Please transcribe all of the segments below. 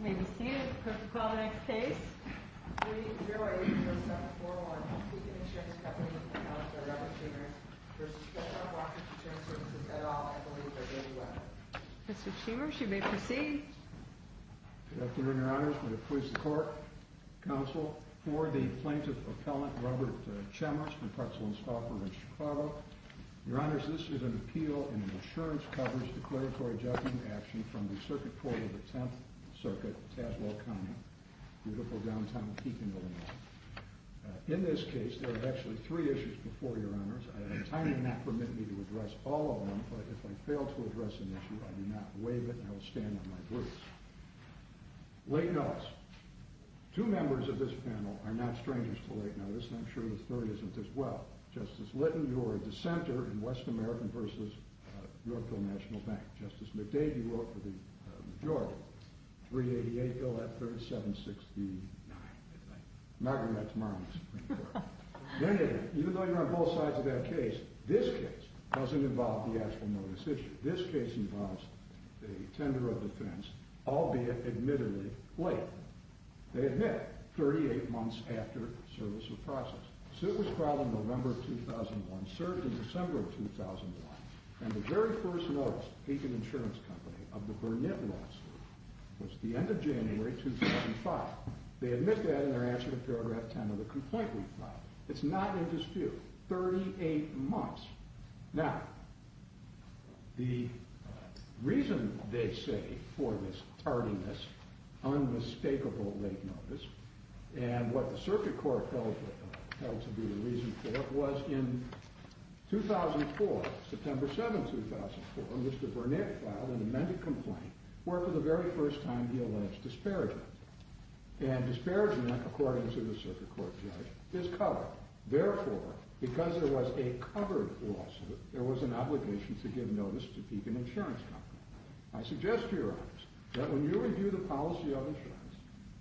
May we see it, call the next case. 3-0-8-0-7-4-1, Keith and Shem's Company, with the counsel Robert Schemers, versus Keshav Walker Insurance Services, et al. I believe they're going to win. Mr. Schemers, you may proceed. Good afternoon, Your Honors. I'm going to please the court, counsel, for the plaintiff appellant, Robert Schemers, from Pretzel and Stauffer in Chicago. Your Honors, this is an appeal in an insurance coverage declaratory judgment action from the circuit court of the 10th Circuit, Tazewell County, beautiful downtown Keegan, Illinois. In this case, there are actually three issues before, Your Honors. I have a time limit to address all of them, but if I fail to address an issue, I do not waive it, and I will stand on my boots. Late notice. Two members of this panel are not strangers to late notice, and I'm sure the third isn't as well. Justice Litton, you are a dissenter in West American versus Yorkville National Bank. Justice McDade, you work for the majority. 388, bill at 3769, I think. I'm not going to that tomorrow in the Supreme Court. Even though you're on both sides of that case, this case doesn't involve the actual notice issue. This case involves a tender of defense, albeit admittedly late. They admit 38 months after service or process. The suit was filed in November of 2001, served in December of 2001. And the very first notice, Aiken Insurance Company, of the Burnett lawsuit was the end of January 2005. They admit that in their answer to paragraph 10 of the complaint we filed. It's not in dispute, 38 months. Now, the reason they say for this tardiness, unmistakable late notice, and what the circuit court held to be the reason for it was in 2004, September 7, 2004, Mr. Burnett filed an amended complaint where for the very first time he alleged disparagement. And disparagement, according to the circuit court judge, is covered. Therefore, because there was a covered lawsuit, there was an obligation to give notice to Aiken Insurance Company. I suggest to your honors that when you review the policy of insurance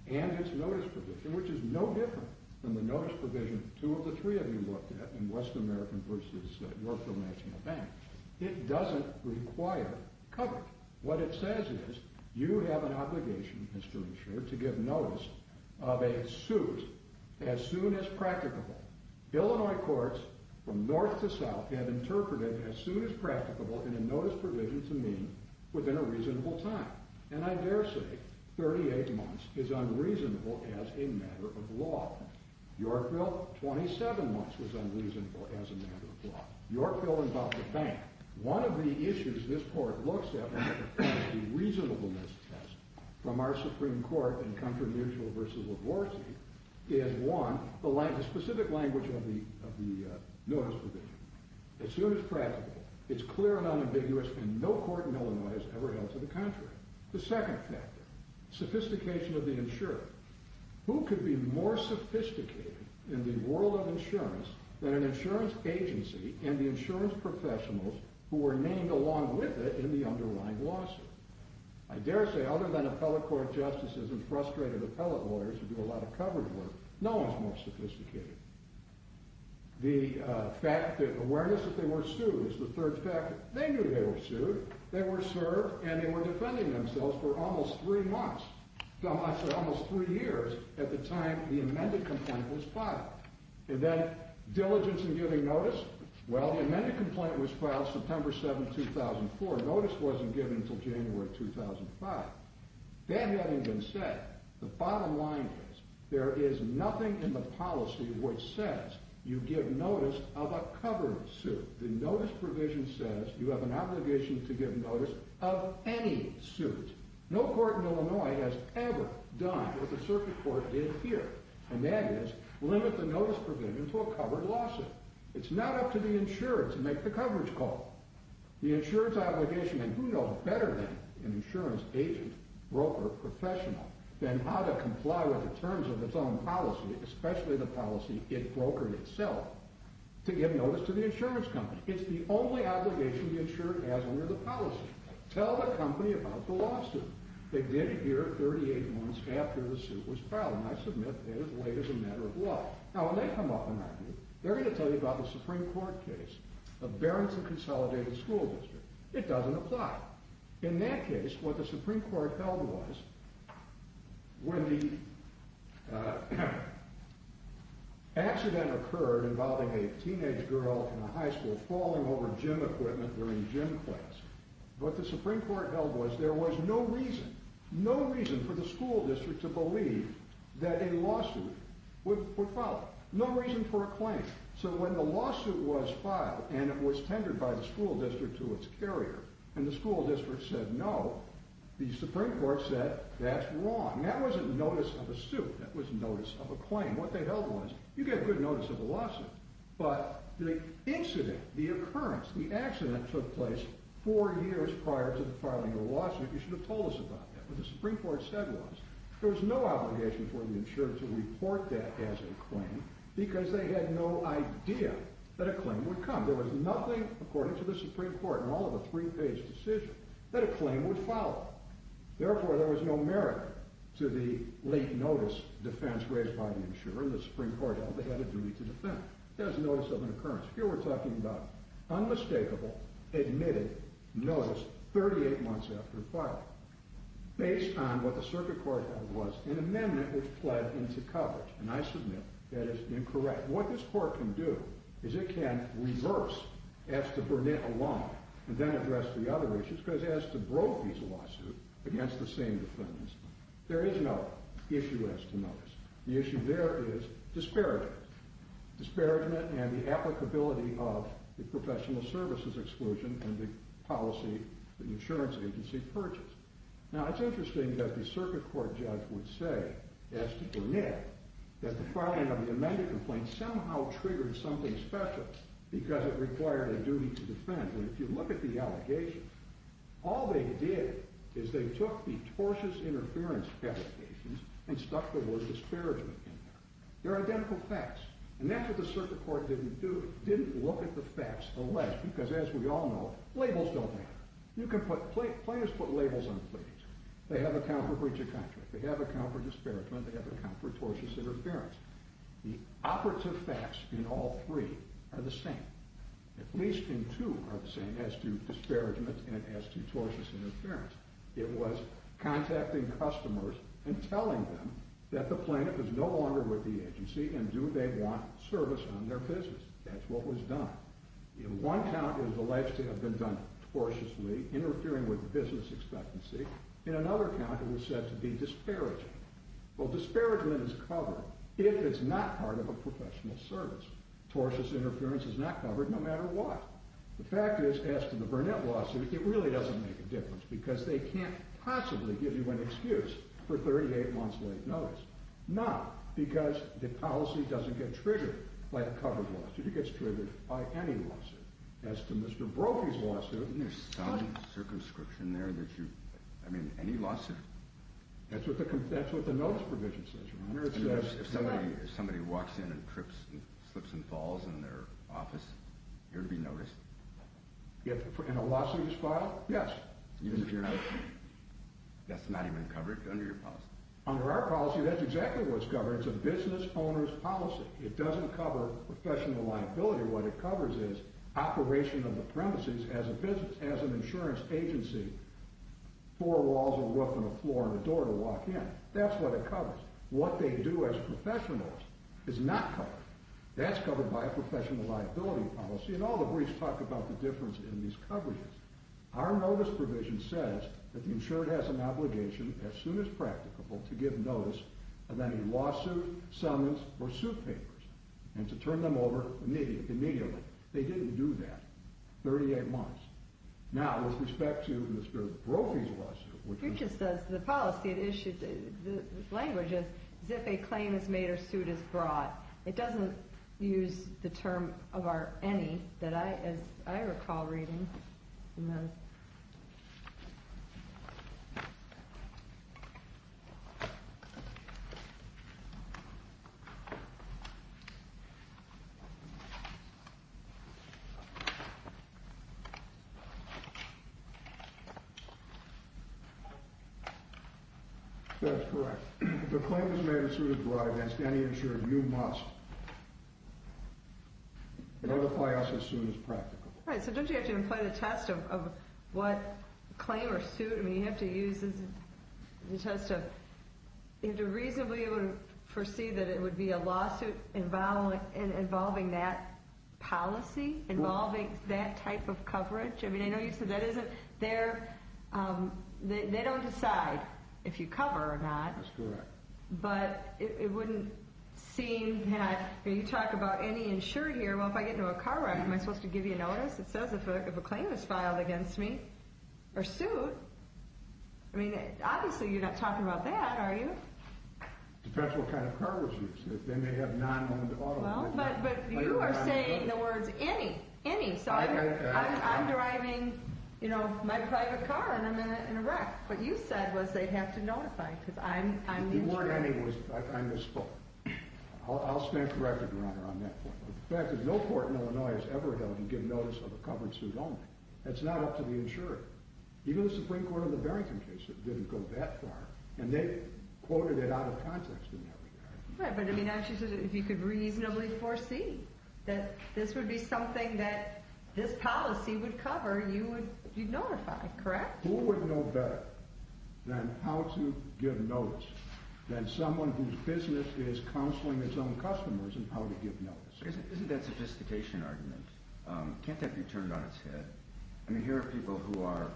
and its notice provision, which is no different than the notice provision two of the three of you looked at in Western American versus Yorkville National Bank, it doesn't require coverage. What it says is you have an obligation, Mr. Insurer, to give notice of a suit as soon as practicable. Illinois courts from north to south have interpreted as soon as practicable in a notice provision to mean within a reasonable time. And I dare say 38 months is unreasonable as a matter of law. Yorkville, 27 months was unreasonable as a matter of law. Yorkville and Bobbitt Bank. One of the issues this court looks at when it applies the reasonableness test from our Supreme Court in Comfort Mutual versus LaVorse is one, the specific language of the notice provision. As soon as practicable, it's clear and unambiguous and no court in Illinois has ever held to the contrary. The second factor, sophistication of the insurer. Who could be more sophisticated in the world of insurance than an insurance agency and the insurance professionals who were named along with it in the underlying lawsuit? I dare say other than appellate court justices and frustrated appellate lawyers who do a lot of coverage work, no one's more sophisticated. The fact that awareness that they were sued is the third factor. They knew they were sued. They were served and they were defending themselves for almost three months. No, I said almost three years at the time the amended complaint was filed. And then diligence in giving notice. Well, the amended complaint was filed September 7, 2004. Notice wasn't given until January 2005. That having been said, the bottom line is there is nothing in the policy which says you give notice of a covered suit. The notice provision says you have an obligation to give notice of any suit. No court in Illinois has ever done what the circuit court did here. And that is limit the notice provision to a covered lawsuit. It's not up to the insurer to make the coverage call. The insurer's obligation and who knows better than an insurance agent, broker, professional than how to comply with the terms of its own policy, especially the policy it brokered itself to give notice to the insurance company. It's the only obligation the insurer has under the policy. Tell the company about the lawsuit. They did it here 38 months after the suit was filed. And I submit it is laid as a matter of law. Now when they come up and argue, they're gonna tell you about the Supreme Court case of Barrington Consolidated School District. It doesn't apply. In that case, what the Supreme Court held was when the accident occurred involving a teenage girl from a high school falling over gym equipment during gym class. What the Supreme Court held was there was no reason, no reason for the school district to believe that a lawsuit would follow. No reason for a claim. So when the lawsuit was filed and it was tendered by the school district to its carrier and the school district said no, the Supreme Court said that's wrong. That wasn't notice of a suit. That was notice of a claim. What they held was you get good notice of a lawsuit, but the incident, the occurrence, the accident took place four years prior to the filing of a lawsuit. You should have told us about that. What the Supreme Court said was there was no obligation for the insurer to report that as a claim because they had no idea that a claim would come. There was nothing according to the Supreme Court in all of the three-page decision that a claim would follow. Therefore, there was no merit to the late notice defense raised by the insurer and the Supreme Court held they had a duty to defend. That was notice of an occurrence. Here we're talking about unmistakable admitted notice 38 months after filing based on what the circuit court held was an amendment which pled into coverage and I submit that is incorrect. What this court can do is it can reverse as to Burnett alone and then address the other issues because as to Brophy's lawsuit against the same defendants, there is no issue as to notice. The issue there is disparagement. Disparagement and the applicability of the professional services exclusion and the policy that the insurance agency purchased. Now it's interesting that the circuit court judge would say as to Burnett that the filing of the amended complaint somehow triggered something special because it required a duty to defend. And if you look at the allegations, all they did is they took the tortious interference applications and stuck the word disparagement in there. They're identical facts. And that's what the circuit court didn't do. It didn't look at the facts unless because as we all know, labels don't matter. You can put, players put labels on things. They have a count for breach of contract. They have a count for disparagement. They have a count for tortious interference. The operative facts in all three are the same. At least in two are the same as to disparagement and as to tortious interference. It was contacting customers and telling them that the plaintiff is no longer with the agency and do they want service on their business. That's what was done. In one count, it was alleged to have been done tortiously, interfering with business expectancy. In another count, it was said to be disparaging. Well, disparagement is covered if it's not part of a professional service. Tortious interference is not covered no matter what. The fact is, as to the Burnett lawsuit, it really doesn't make a difference because they can't possibly give you an excuse for 38 months late notice. Not because the policy doesn't get triggered by a covered lawsuit. It gets triggered by any lawsuit. As to Mr. Brophy's lawsuit. Isn't there some circumscription there that you, I mean, any lawsuit. That's what the notice provision says. Remember it says. If somebody walks in and slips and falls in their office, you're to be noticed. In a lawsuits file? Yes. That's not even covered under your policy. Under our policy, that's exactly what's covered. It's a business owner's policy. It doesn't cover professional liability. What it covers is operation of the premises as an insurance agency. Four walls, a roof, and a floor and a door to walk in. That's what it covers. What they do as professionals is not covered. That's covered by a professional liability policy. And all the briefs talk about the difference in these coverages. Our notice provision says that the insured has an obligation as soon as practicable to give notice of any lawsuit, summons, or suit papers, and to turn them over immediately. They didn't do that. 38 months. Now, with respect to Mr. Brophy's lawsuit, which is- It just says, the policy it issued, the language is, as if a claim is made or suit is brought. It doesn't use the term of our, any, that I, as I recall reading in those. That's correct. If a claim is made or suit is brought against any insured, you must notify us as soon as practical. Right, so don't you have to employ the test of what claim or suit, I mean, you have to use this, it has to, you have to reasonably foresee that it would be a lawsuit involving that policy, involving that type of coverage. I mean, I know you said that isn't, they're, they don't decide if you cover or not. That's correct. But it wouldn't seem that, you talk about any insured here, well, if I get into a car wreck, am I supposed to give you notice? It says if a claim is filed against me, or suit, I mean, obviously you're not talking about that, are you? Depends what kind of car was used. They may have non-owned automobiles. Well, but you are saying the words any, any, so I'm driving, you know, my private car, and I'm in a wreck. What you said was they'd have to notify, because I'm insured. If it weren't any, I misspoke. I'll stand corrected, Your Honor, on that point. The fact is no court in Illinois has ever held you give notice of a covered suit only. That's not up to the insurer. Even the Supreme Court on the Barrington case didn't go that far, and they quoted it out of context in that regard. Right, but I mean, actually, if you could reasonably foresee that this would be something that this policy would cover, you would be notified, correct? Who would know better than how to give notice than someone whose business is counseling its own customers in how to give notice? Isn't that a sophistication argument? Can't that be turned on its head? I mean, here are people who are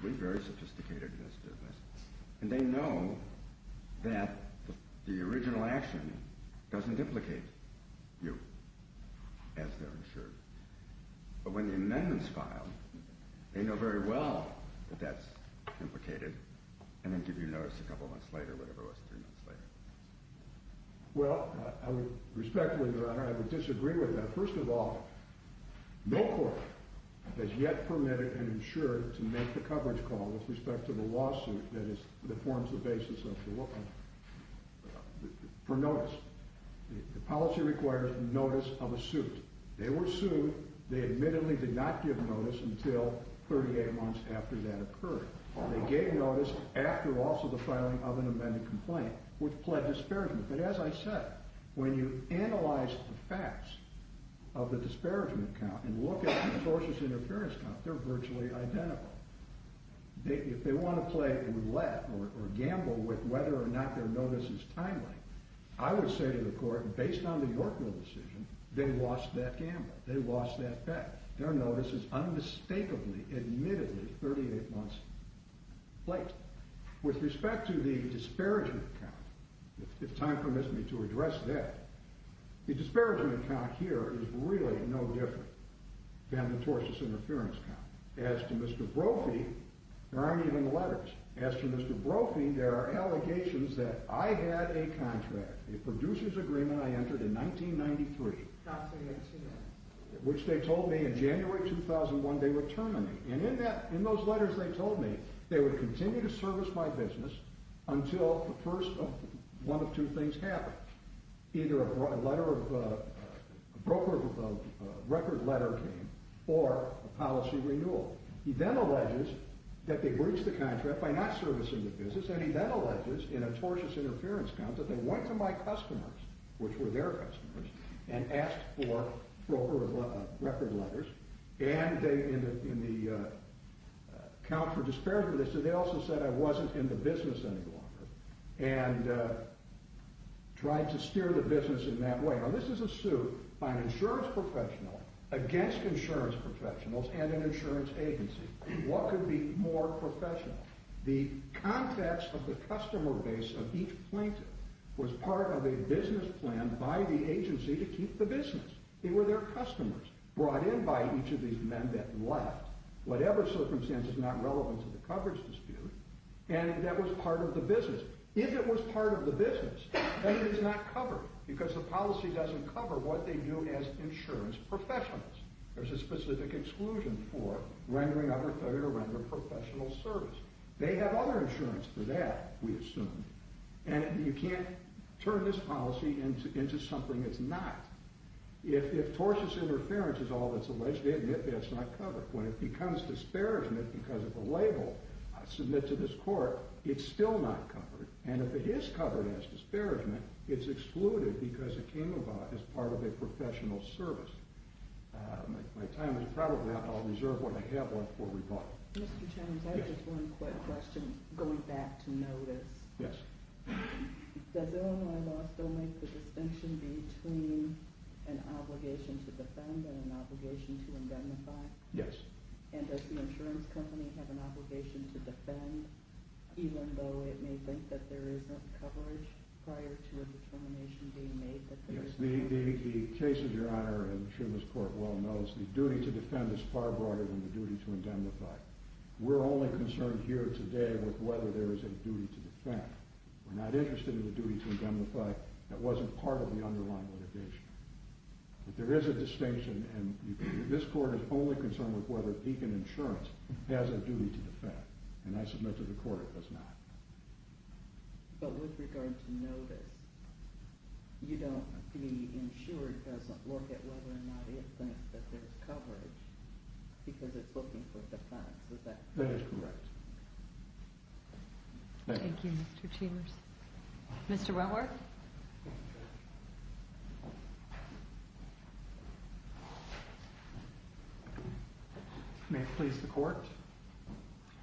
very, very sophisticated in this business, and they know that the original action doesn't implicate you, as they're insured. But when the amendment's filed, they know very well that that's implicated, and then give you notice a couple months later, whatever it was, three months later. Well, respectfully, Your Honor, I would disagree with that. First of all, no court has yet permitted and insured to make the coverage call with respect to the lawsuit that forms the basis for notice. The policy requires notice of a suit. They were sued. They admittedly did not give notice until 38 months after that occurred. They gave notice after also the filing of an amended complaint, which pled disparagement. But as I said, when you analyze the facts of the disparagement count, and look at the sources of interference count, they're virtually identical. If they want to play roulette or gamble with whether or not their notice is timely, I would say to the court, based on the Yorkville decision, they lost that gamble. They lost that bet. Their notice is unmistakably, admittedly, 38 months late. With respect to the disparagement count, if time permits me to address that, the disparagement count here is really no different than the tortious interference count. As to Mr. Brophy, there aren't even letters. As to Mr. Brophy, there are allegations that I had a contract, a producer's agreement I entered in 1993, which they told me in January 2001 they would terminate. And in those letters they told me, they would continue to service my business until the first one of two things happened. Either a letter of, a broker of record letter came, or a policy renewal. He then alleges that they breached the contract by not servicing the business, and he then alleges, in a tortious interference count, that they went to my customers, which were their customers, and asked for broker of record letters, and they, in the count for disparagement, they also said I wasn't in the business any longer, and tried to steer the business in that way. Now this is a suit by an insurance professional against insurance professionals and an insurance agency. What could be more professional? The contacts of the customer base of each plaintiff was part of a business plan by the agency to keep the business. They were their customers, brought in by each of these men that left, whatever circumstances, is not relevant to the coverage dispute, and that was part of the business. If it was part of the business, then it is not covered, because the policy doesn't cover what they do as insurance professionals. There's a specific exclusion for rendering other failure, rendering professional service. They have other insurance for that, we assume, and you can't turn this policy into something it's not. If tortious interference is all that's alleged, it's not covered. When it becomes disparagement because of a label submitted to this court, it's still not covered. And if it is covered as disparagement, it's excluded because it came about as part of a professional service. My time is probably up. I'll reserve what I have left for rebuttal. Mr. Jones, I have just one quick question, going back to notice. Yes. Does Illinois law still make the distinction between an obligation to defend and an obligation to indemnify? Yes. And does the insurance company have an obligation to defend, even though it may think that there isn't coverage prior to a determination being made that there is? Yes. The case of your honor in Shuma's court well knows the duty to defend is far broader than the duty to indemnify. We're only concerned here today with whether there is a duty to defend. We're not interested in the duty to indemnify that wasn't part of the underlying litigation. There is a distinction, and this court is only concerned with whether Deakin Insurance has a duty to defend. And I submit to the court it does not. But with regard to notice, you don't be insured as to whether or not it thinks that there's coverage because it's looking for defense. Is that correct? That is correct. Thank you. Thank you, Mr. Chambers. Mr. Wentworth? May it please the court?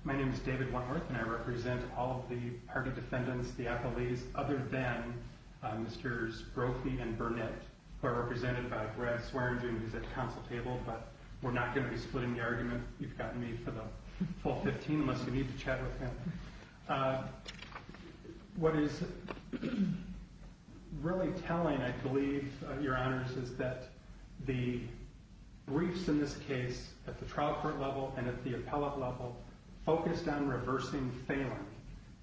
My name is David Wentworth, and I represent all of the party defendants, the appelees, other than Mrs. Brophy and Burnett, who are represented by Brad Swearingen, who's at the council table. But we're not going to be splitting the argument. You've got me for the full 15 minutes. You need to chat with him. What is really telling, I believe, your honors, is that the briefs in this case, at the trial court level and at the appellate level, focused on reversing Phelan.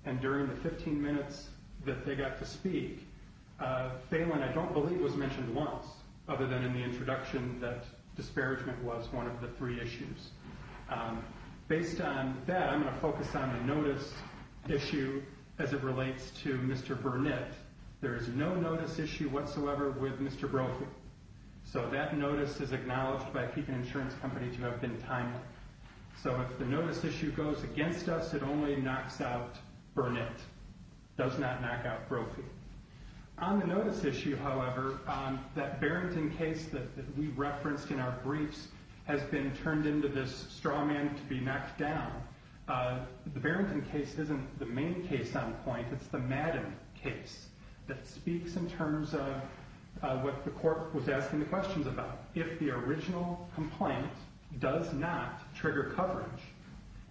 And during the 15 minutes that they got to speak, Phelan, I don't believe, was mentioned once, other than in the introduction that disparagement was one of the three issues. Based on that, I'm going to focus on the notice issue as it relates to Mr. Burnett. There is no notice issue whatsoever with Mr. Brophy. So that notice is acknowledged by keeping insurance companies who have been timed. So if the notice issue goes against us, it only knocks out Burnett. Does not knock out Brophy. On the notice issue, however, that Barrington case that we referenced in our briefs has been turned into this straw man to be knocked down. The Barrington case isn't the main case on point. It's the Madden case that speaks in terms of what the court was asking the questions about. If the original complaint does not trigger coverage,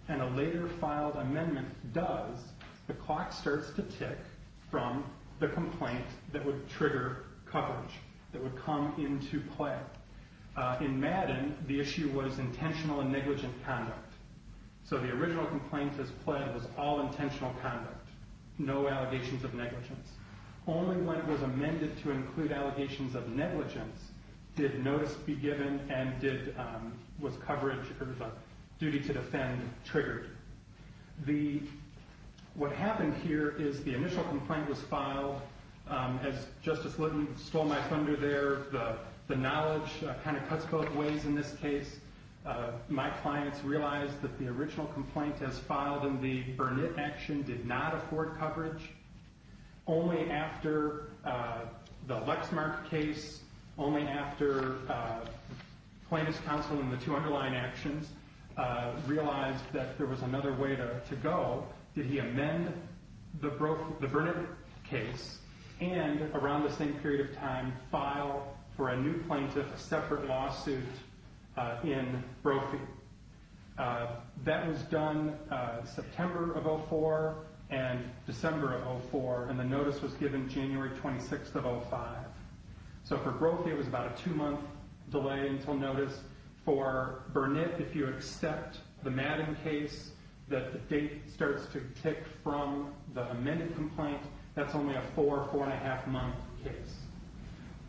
and a later filed amendment does, the clock starts to tick from the complaint that would trigger coverage, that would come into play. In Madden, the issue was intentional and negligent conduct. So the original complaint as pled was all intentional conduct. No allegations of negligence. Only when it was amended to include allegations of negligence did notice be given and was coverage, or the duty to defend, triggered. What happened here is the initial complaint was filed. As Justice Lutton stole my thunder there, the knowledge kind of cuts both ways in this case. My clients realized that the original complaint as filed in the Burnett action did not afford coverage. Only after the Lexmark case, only after plaintiff's counsel in the two underlying actions realized that there was another way to go, did he amend the Burnett case and, around the same period of time, file for a new plaintiff a separate lawsuit in Brophy. That was done September of 04 and December of 04, and the notice was given January 26 of 05. So for Brophy, it was about a two month delay until notice. For Burnett, if you accept the Madden case, that the date starts to tick from the amended complaint, that's only a four, four and a half month case.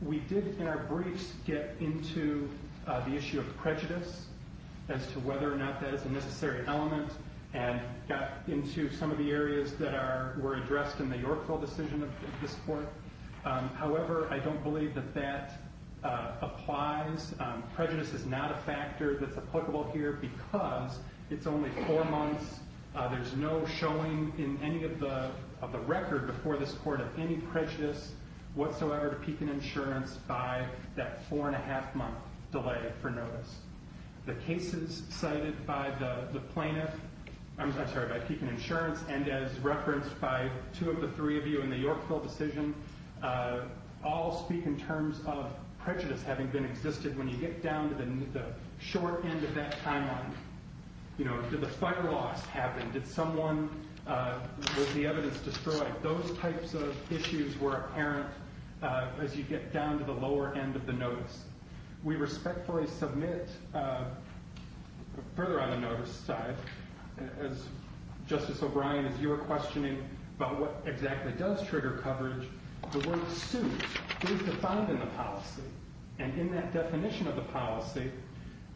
We did, in our briefs, get into the issue of prejudice as to whether or not that is a necessary element and got into some of the areas that were addressed in the Yorkville decision of this court. However, I don't believe that that applies. Prejudice is not a factor that's applicable here because it's only four months. There's no showing in any of the record before this court of any prejudice whatsoever to Pekin Insurance by that four and a half month delay for notice. The cases cited by the plaintiff, I'm sorry, by Pekin Insurance, and as referenced by two of the three of you in the Yorkville decision, all speak in terms of prejudice having been existed. When you get down to the short end of that timeline, did the fight or loss happen? Did someone, was the evidence destroyed? Those types of issues were apparent as you get down to the lower end of the notice. We respectfully submit, further on the notice side, as Justice O'Brien, as you were questioning about what exactly does trigger coverage, the word suit is defined in the policy. And in that definition of the policy,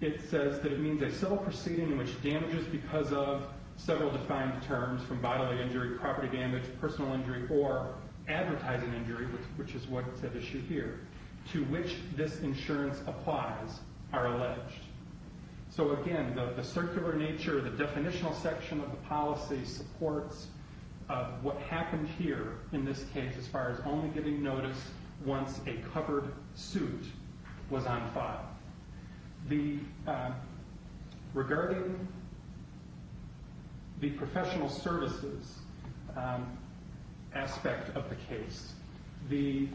it says that it means a civil proceeding in which damages because of several defined terms, from bodily injury, property damage, personal injury, or advertising injury, which is what's at issue here, to which this insurance applies are alleged. So again, the circular nature, the definitional section of the policy supports what happened here in this case as far as only getting notice once a covered suit was on file. Regarding the professional services, aspect of the case, the,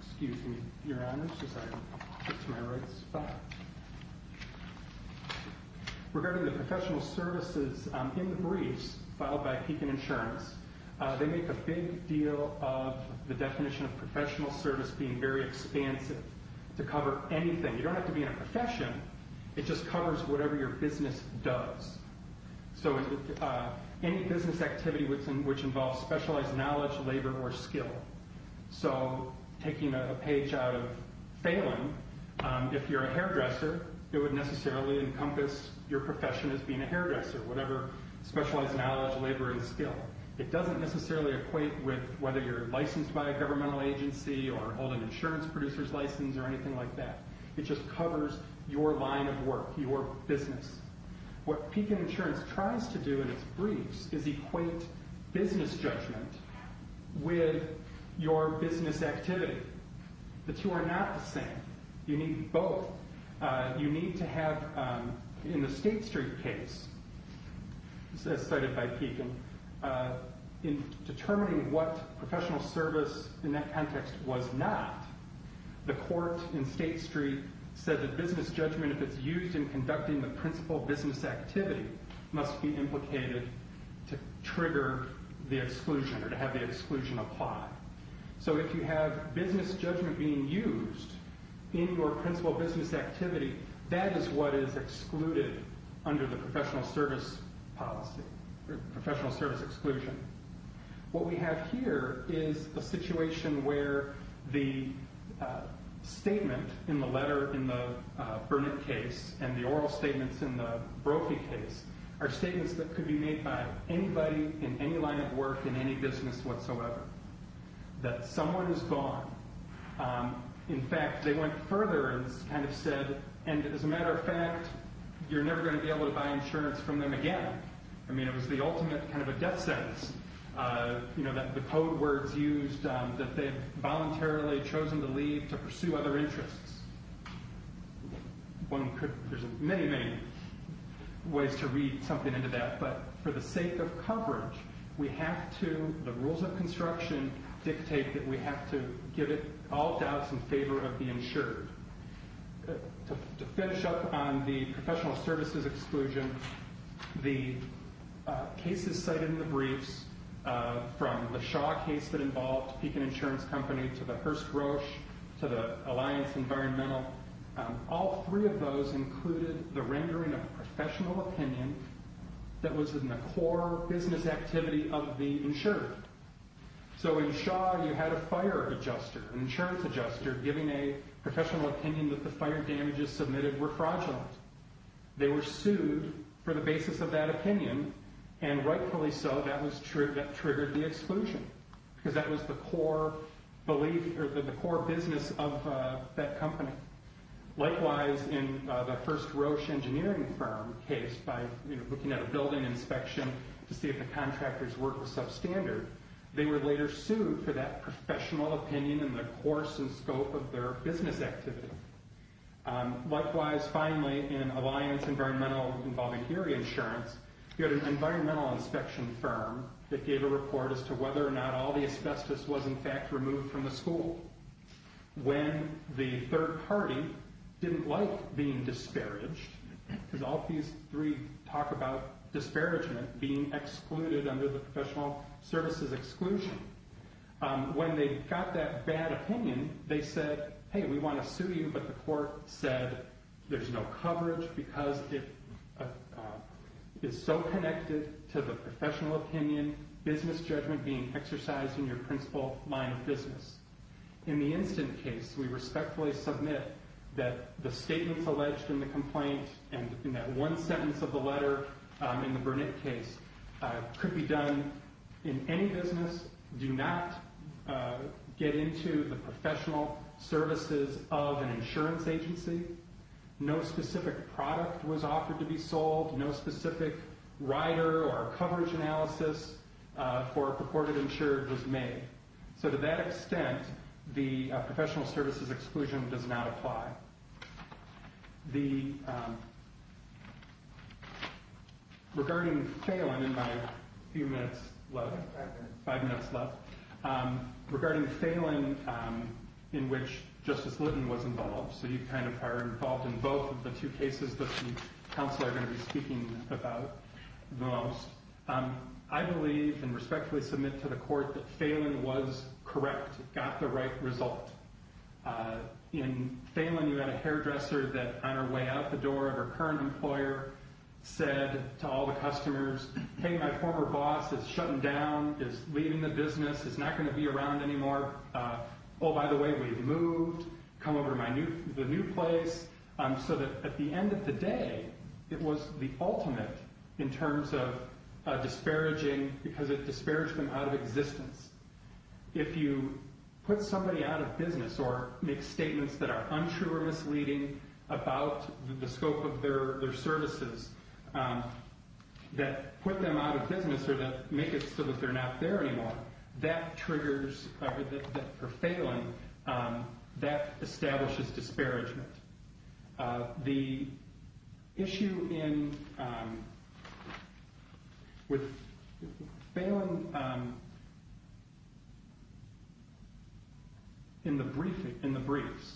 excuse me, your honors, as I'm just in my right spot. Regarding the professional services in the briefs, followed by Pekin Insurance, they make a big deal of the definition of professional service being very expansive to cover anything. You don't have to be in a profession it just covers whatever your business does. So any business activity which involves specialized knowledge, labor, or skill. So taking a page out of Phelan, if you're a hairdresser, it would necessarily encompass your profession as being a hairdresser, whatever specialized knowledge, labor, and skill. It doesn't necessarily equate with whether you're licensed by a governmental agency or hold an insurance producer's license or anything like that. It just covers your line of work, your business. What Pekin Insurance tries to do in its briefs is equate business judgment with your business activity. The two are not the same. You need both. You need to have, in the State Street case, as cited by Pekin, in determining what professional service in that context was not, the court in State Street said that business judgment, if it's used in conducting the principal business activity, must be implicated to trigger the exclusion or to have the exclusion apply. So if you have business judgment being used in your principal business activity, that is what is excluded under the professional service policy, professional service exclusion. What we have here is a situation where the statement in the letter in the Burnett case and the oral statements in the Brophy case are statements that could be made by anybody in any line of work in any business whatsoever, that someone is gone. In fact, they went further and kind of said, and as a matter of fact, you're never gonna be able to buy insurance from them again. I mean, it was the ultimate kind of a death sentence, you know, that the code words used that they've voluntarily chosen to leave to pursue other interests. One could, there's many, many ways to read something into that, but for the sake of coverage, we have to, the rules of construction dictate that we have to give it all doubts in favor of the insured. To finish up on the professional services exclusion, the cases cited in the briefs from the Shaw case that involved Pekin Insurance Company to the Hearst-Roche to the Alliance Environmental, all three of those included the rendering of a professional opinion that was in the core business activity of the insured. So in Shaw, you had a fire adjuster, an insurance adjuster, giving a professional opinion that the fire damages submitted were fraudulent. They were sued for the basis of that opinion, and rightfully so, that triggered the exclusion, because that was the core belief, or the core business of that company. Likewise, in the Hearst-Roche engineering firm case by looking at a building inspection to see if the contractors worked with substandard, they were later sued for that professional opinion in the course and scope of their business activity. Likewise, finally, in Alliance Environmental involving Erie Insurance, you had an environmental inspection firm that gave a report as to whether or not all the asbestos was in fact removed from the school, when the third party didn't like being disparaged, because all three talk about disparagement being excluded under the professional services exclusion. When they got that bad opinion, they said, hey, we want to sue you, but the court said there's no coverage because it is so connected to the professional opinion, business judgment being exercised in your principal line of business. In the Instant case, we respectfully submit that the statements alleged in the complaint, and in that one sentence of the letter in the Burnett case, could be done in any business, do not get into the professional services of an insurance agency, no specific product was offered to be sold, no specific rider or coverage analysis for purported insured was made. So to that extent, the professional services exclusion does not apply. Regarding Phelan, in my few minutes left, five minutes left, regarding Phelan, in which Justice Lutton was involved, so you kind of are involved in both of the two cases that the counsel are going to be speaking about the most, I believe and respectfully submit to the court that Phelan was correct, got the right result. In Phelan, we had a hairdresser that on her way out the door of her current employer said to all the customers, hey, my former boss is shutting down, is leaving the business, is not going to be around anymore. Oh, by the way, we've moved, come over to the new place, so that at the end of the day, it was the ultimate in terms of disparaging, because it disparaged them out of existence. If you put somebody out of business or make statements that are untrue or misleading about the scope of their services, that put them out of business or that make it so that they're not there anymore, that triggers, or Phelan, that establishes disparagement. The issue in, with Phelan, in the briefs,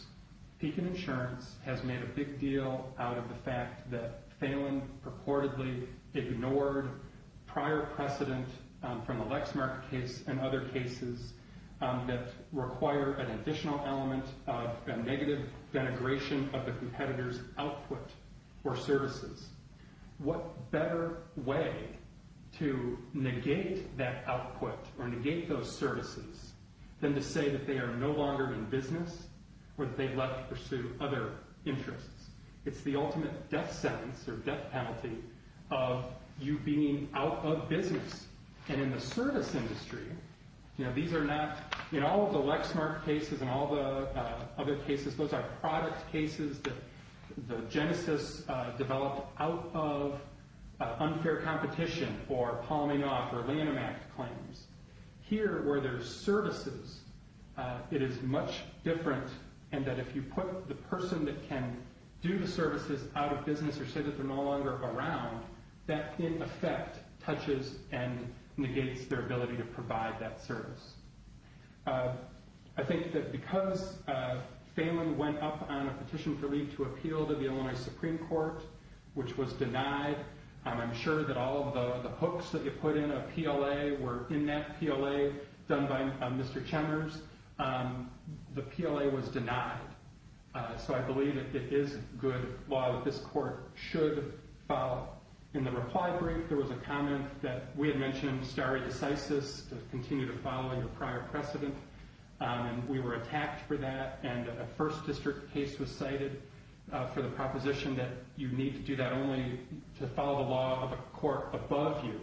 Deakin Insurance has made a big deal out of the fact that Phelan purportedly ignored prior precedent from the Lexmark case and other cases that require an additional element of a negative denigration of the competitor's output or services. What better way to negate that output or negate those services than to say that they are no longer in business or that they've left to pursue other interests? It's the ultimate death sentence or death penalty of you being out of business. And in the service industry, these are not, in all of the Lexmark cases and all the other cases, those are product cases that the genesis developed out of unfair competition or Paul Maynard or Leonomac claims. Here, where there's services, it is much different in that if you put the person that can do the services out of business or say that they're no longer around, that in effect touches and negates their ability to provide that service. I think that because Phelan went up on a petition for me to appeal to the Illinois Supreme Court, which was denied, I'm sure that all of the hooks that you put in a PLA were in that PLA done by Mr. Chemers, the PLA was denied. So I believe it is good law that this court should follow. In the reply brief, there was a comment that we had mentioned stare decisis to continue to follow your prior precedent. And we were attacked for that. And a first district case was cited for the proposition that you need to do that only to follow the law of a court above you.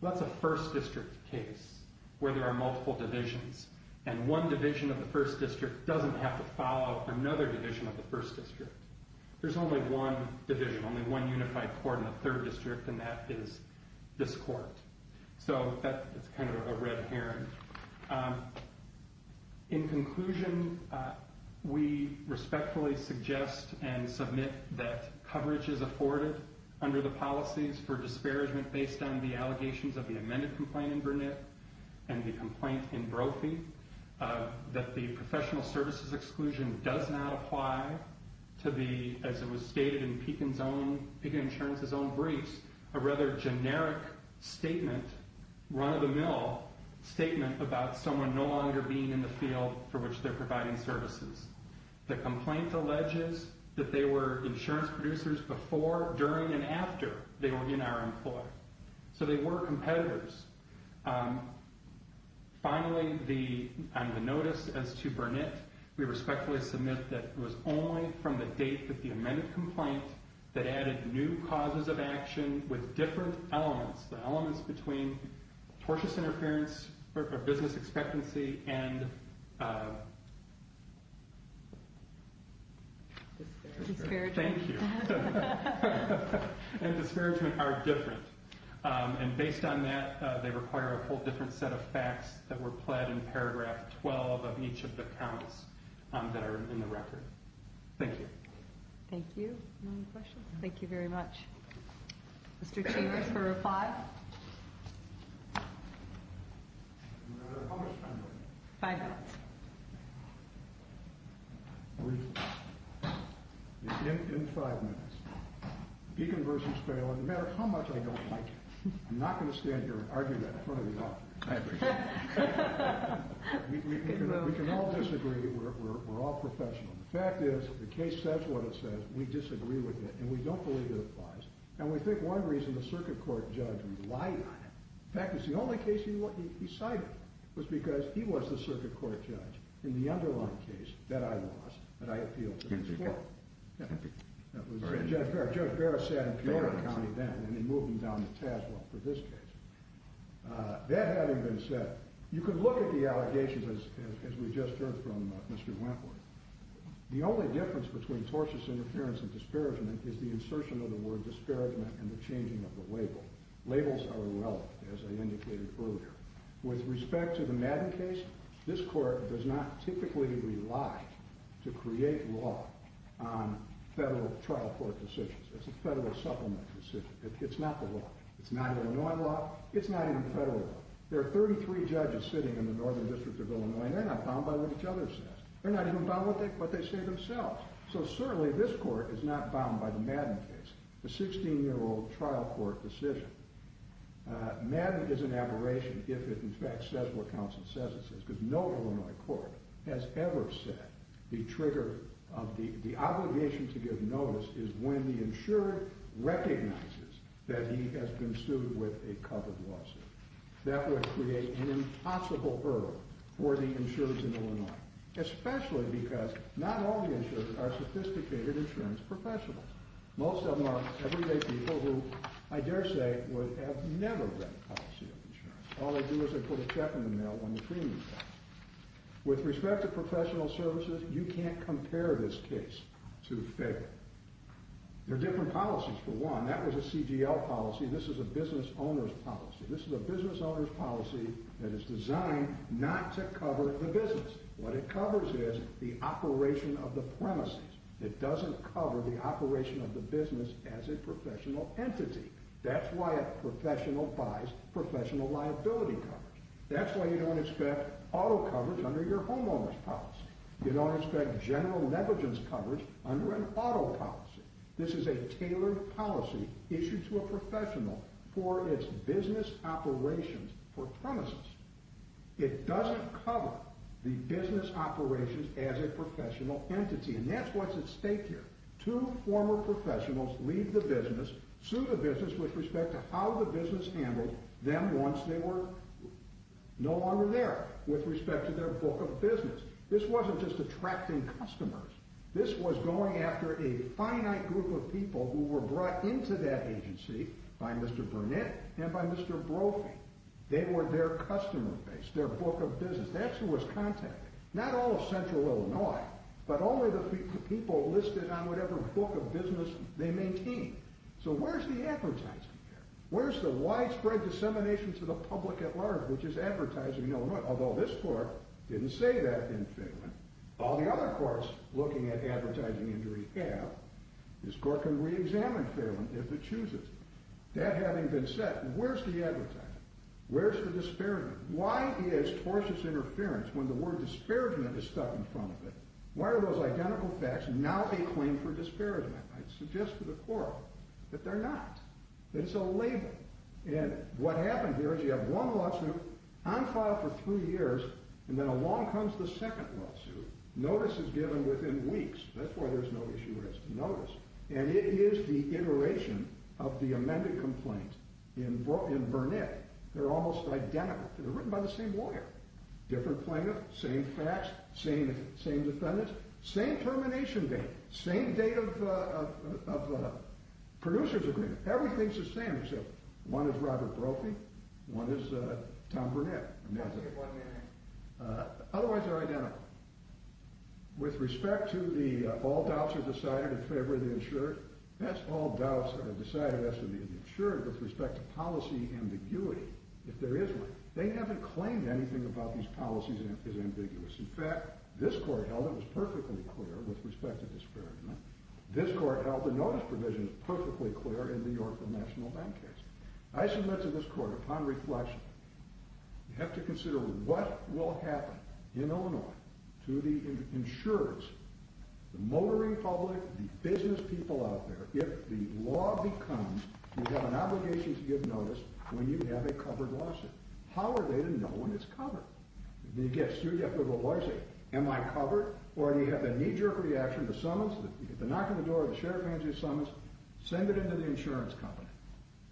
Well, that's a first district case where there are multiple divisions. And one division of the first district doesn't have to follow another division of the first district. There's only one division, only one unified court in the third district. And that is this court. So that's kind of a red herring. In conclusion, we respectfully suggest and submit that coverage is afforded under the policies for disparagement based on the allegations of the amended complaint in Burnett and the complaint in Brophy, that the professional services exclusion does not apply to the, as it was stated in Pekin Insurance's own briefs, a rather generic statement, run-of-the-mill statement about someone no longer being in the field for which they're providing services. The complaint alleges that they were insurance producers before, during, and after they were in our employ. So they were competitors. Finally, on the notice as to Burnett, we respectfully submit that it was only from the date that the amended complaint that added new causes of action with different elements, the elements between tortious interference or business expectancy and... Disparagement. Thank you. And disparagement are different. And based on that, they require a whole different set of facts that were pled in paragraph 12 of each of the counts that are in the record. Thank you. Thank you. No more questions? Thank you very much. Mr. Chambers for a reply. How much time do I have? Five minutes. In five minutes. Pekin versus Baylor, no matter how much I don't like you, I'm not gonna stand here and argue that in front of you all. I agree. I agree. We can all disagree, we're all professionals. The fact is, the case says what it says, we disagree with it, and we don't believe it applies. And we think one reason the circuit court judge relied on it in fact, it's the only case he cited, was because he was the circuit court judge in the underlying case that I lost, that I appealed to the court. Judge Barrett sat in Puyallup County then, and he moved him down to Tazewell for this case. That having been said, you could look at the allegations as we just heard from Mr. Wentworth. The only difference between tortious interference and disparagement is the insertion of the word disparagement and the changing of the label. Labels are irrelevant, as I indicated earlier. With respect to the Madden case, this court does not typically rely to create law on federal trial court decisions. It's a federal supplement decision, it's not the law. It's not Illinois law, it's not even federal law. There are 33 judges sitting in the Northern District of Illinois, and they're not bound by what each other says. They're not even bound by what they say themselves. So certainly, this court is not bound by the Madden case, the 16-year-old trial court decision. Madden is an aberration if it, in fact, says what counsel says it says, because no Illinois court has ever said the trigger of the obligation to give notice is when the insured recognizes that he has been sued with a covered lawsuit. That would create an impossible hurdle for the insureds in Illinois, especially because not all the insureds are sophisticated insurance professionals. Most of them are everyday people who, I dare say, would have never read the policy of insurance. All they do is they put a check in the mail when the premium's out. With respect to professional services, you can't compare this case to the federal. They're different policies, for one. That was a CGL policy, this is a business owner's policy. This is a business owner's policy that is designed not to cover the business. What it covers is the operation of the premises. It doesn't cover the operation of the business as a professional entity. That's why a professional buys professional liability coverage. That's why you don't expect auto coverage under your homeowner's policy. You don't expect general negligence coverage under an auto policy. This is a tailored policy issued to a professional for its business operations for premises. It doesn't cover the business operations as a professional entity, and that's what's at stake here. Two former professionals leave the business, sue the business with respect to how the business handled them once they were no longer there with respect to their book of business. This wasn't just attracting customers. This was going after a finite group of people who were brought into that agency by Mr. Burnett and by Mr. Brophy. They were their customer base, their book of business. That's who was contacted. Not all of Central Illinois, but only the people listed on whatever book of business they maintained. So where's the advertising there? Where's the widespread dissemination to the public at large, which is advertising Illinois? Although this court didn't say that in Phelan. All the other courts looking at advertising injury have. This court can reexamine Phelan if it chooses. That having been said, where's the advertising? Where's the disparagement? Why is tortuous interference when the word disparagement is stuck in front of it? Why are those identical facts now a claim for disparagement? I'd suggest to the court that they're not. It's a label. And what happened here is you have one lawsuit on file for three years, and then along comes the second lawsuit. Notice is given within weeks. That's why there's no issue with notice. And it is the iteration of the amended complaint in Burnett. They're almost identical. They're written by the same lawyer. Different plaintiff, same facts, same defendants, same termination date, same date of producer's agreement. Everything's the same except one is Robert Brophy, one is Tom Burnett. I'm not saying it's one man. Otherwise, they're identical. With respect to the all doubts are decided in favor of the insurer. That's all doubts are decided as to the insurer with respect to policy ambiguity, if there is one. They haven't claimed anything about these policies is ambiguous. In fact, this court held it was perfectly clear with respect to disparagement. This court held the notice provision is perfectly clear in the Yorkville National Bank case. I submit to this court, upon reflection, you have to consider what will happen in Illinois to the insurers. The motoring public, the business people out there, if the law becomes you have an obligation to give notice when you have a covered lawsuit. How are they to know when it's covered? Do you get sued? You have to go to the lawyer and say, am I covered? Or do you have the knee jerk reaction, the summons, the knock on the door, the sheriff hands you a summons, send it into the insurance company.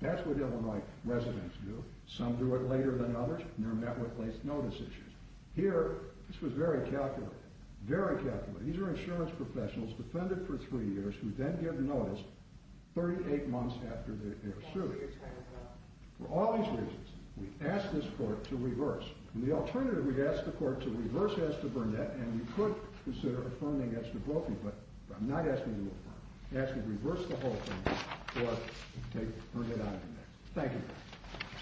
That's what Illinois residents do. Some do it later than others, and they're met with late notice issues. Here, this was very calculated, very calculated. These are insurance professionals defended for three years, who then get notice 38 months after they're sued. For all these reasons, we ask this court to reverse. The alternative, we ask the court to reverse as to Burnett, and we could consider affirming as to Brophy, but I'm not asking you to affirm. Ask me to reverse the whole thing, or take Burnett out of the case. Thank you.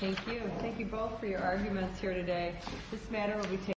Thank you. Thank you both for your arguments here today. This matter will be taken.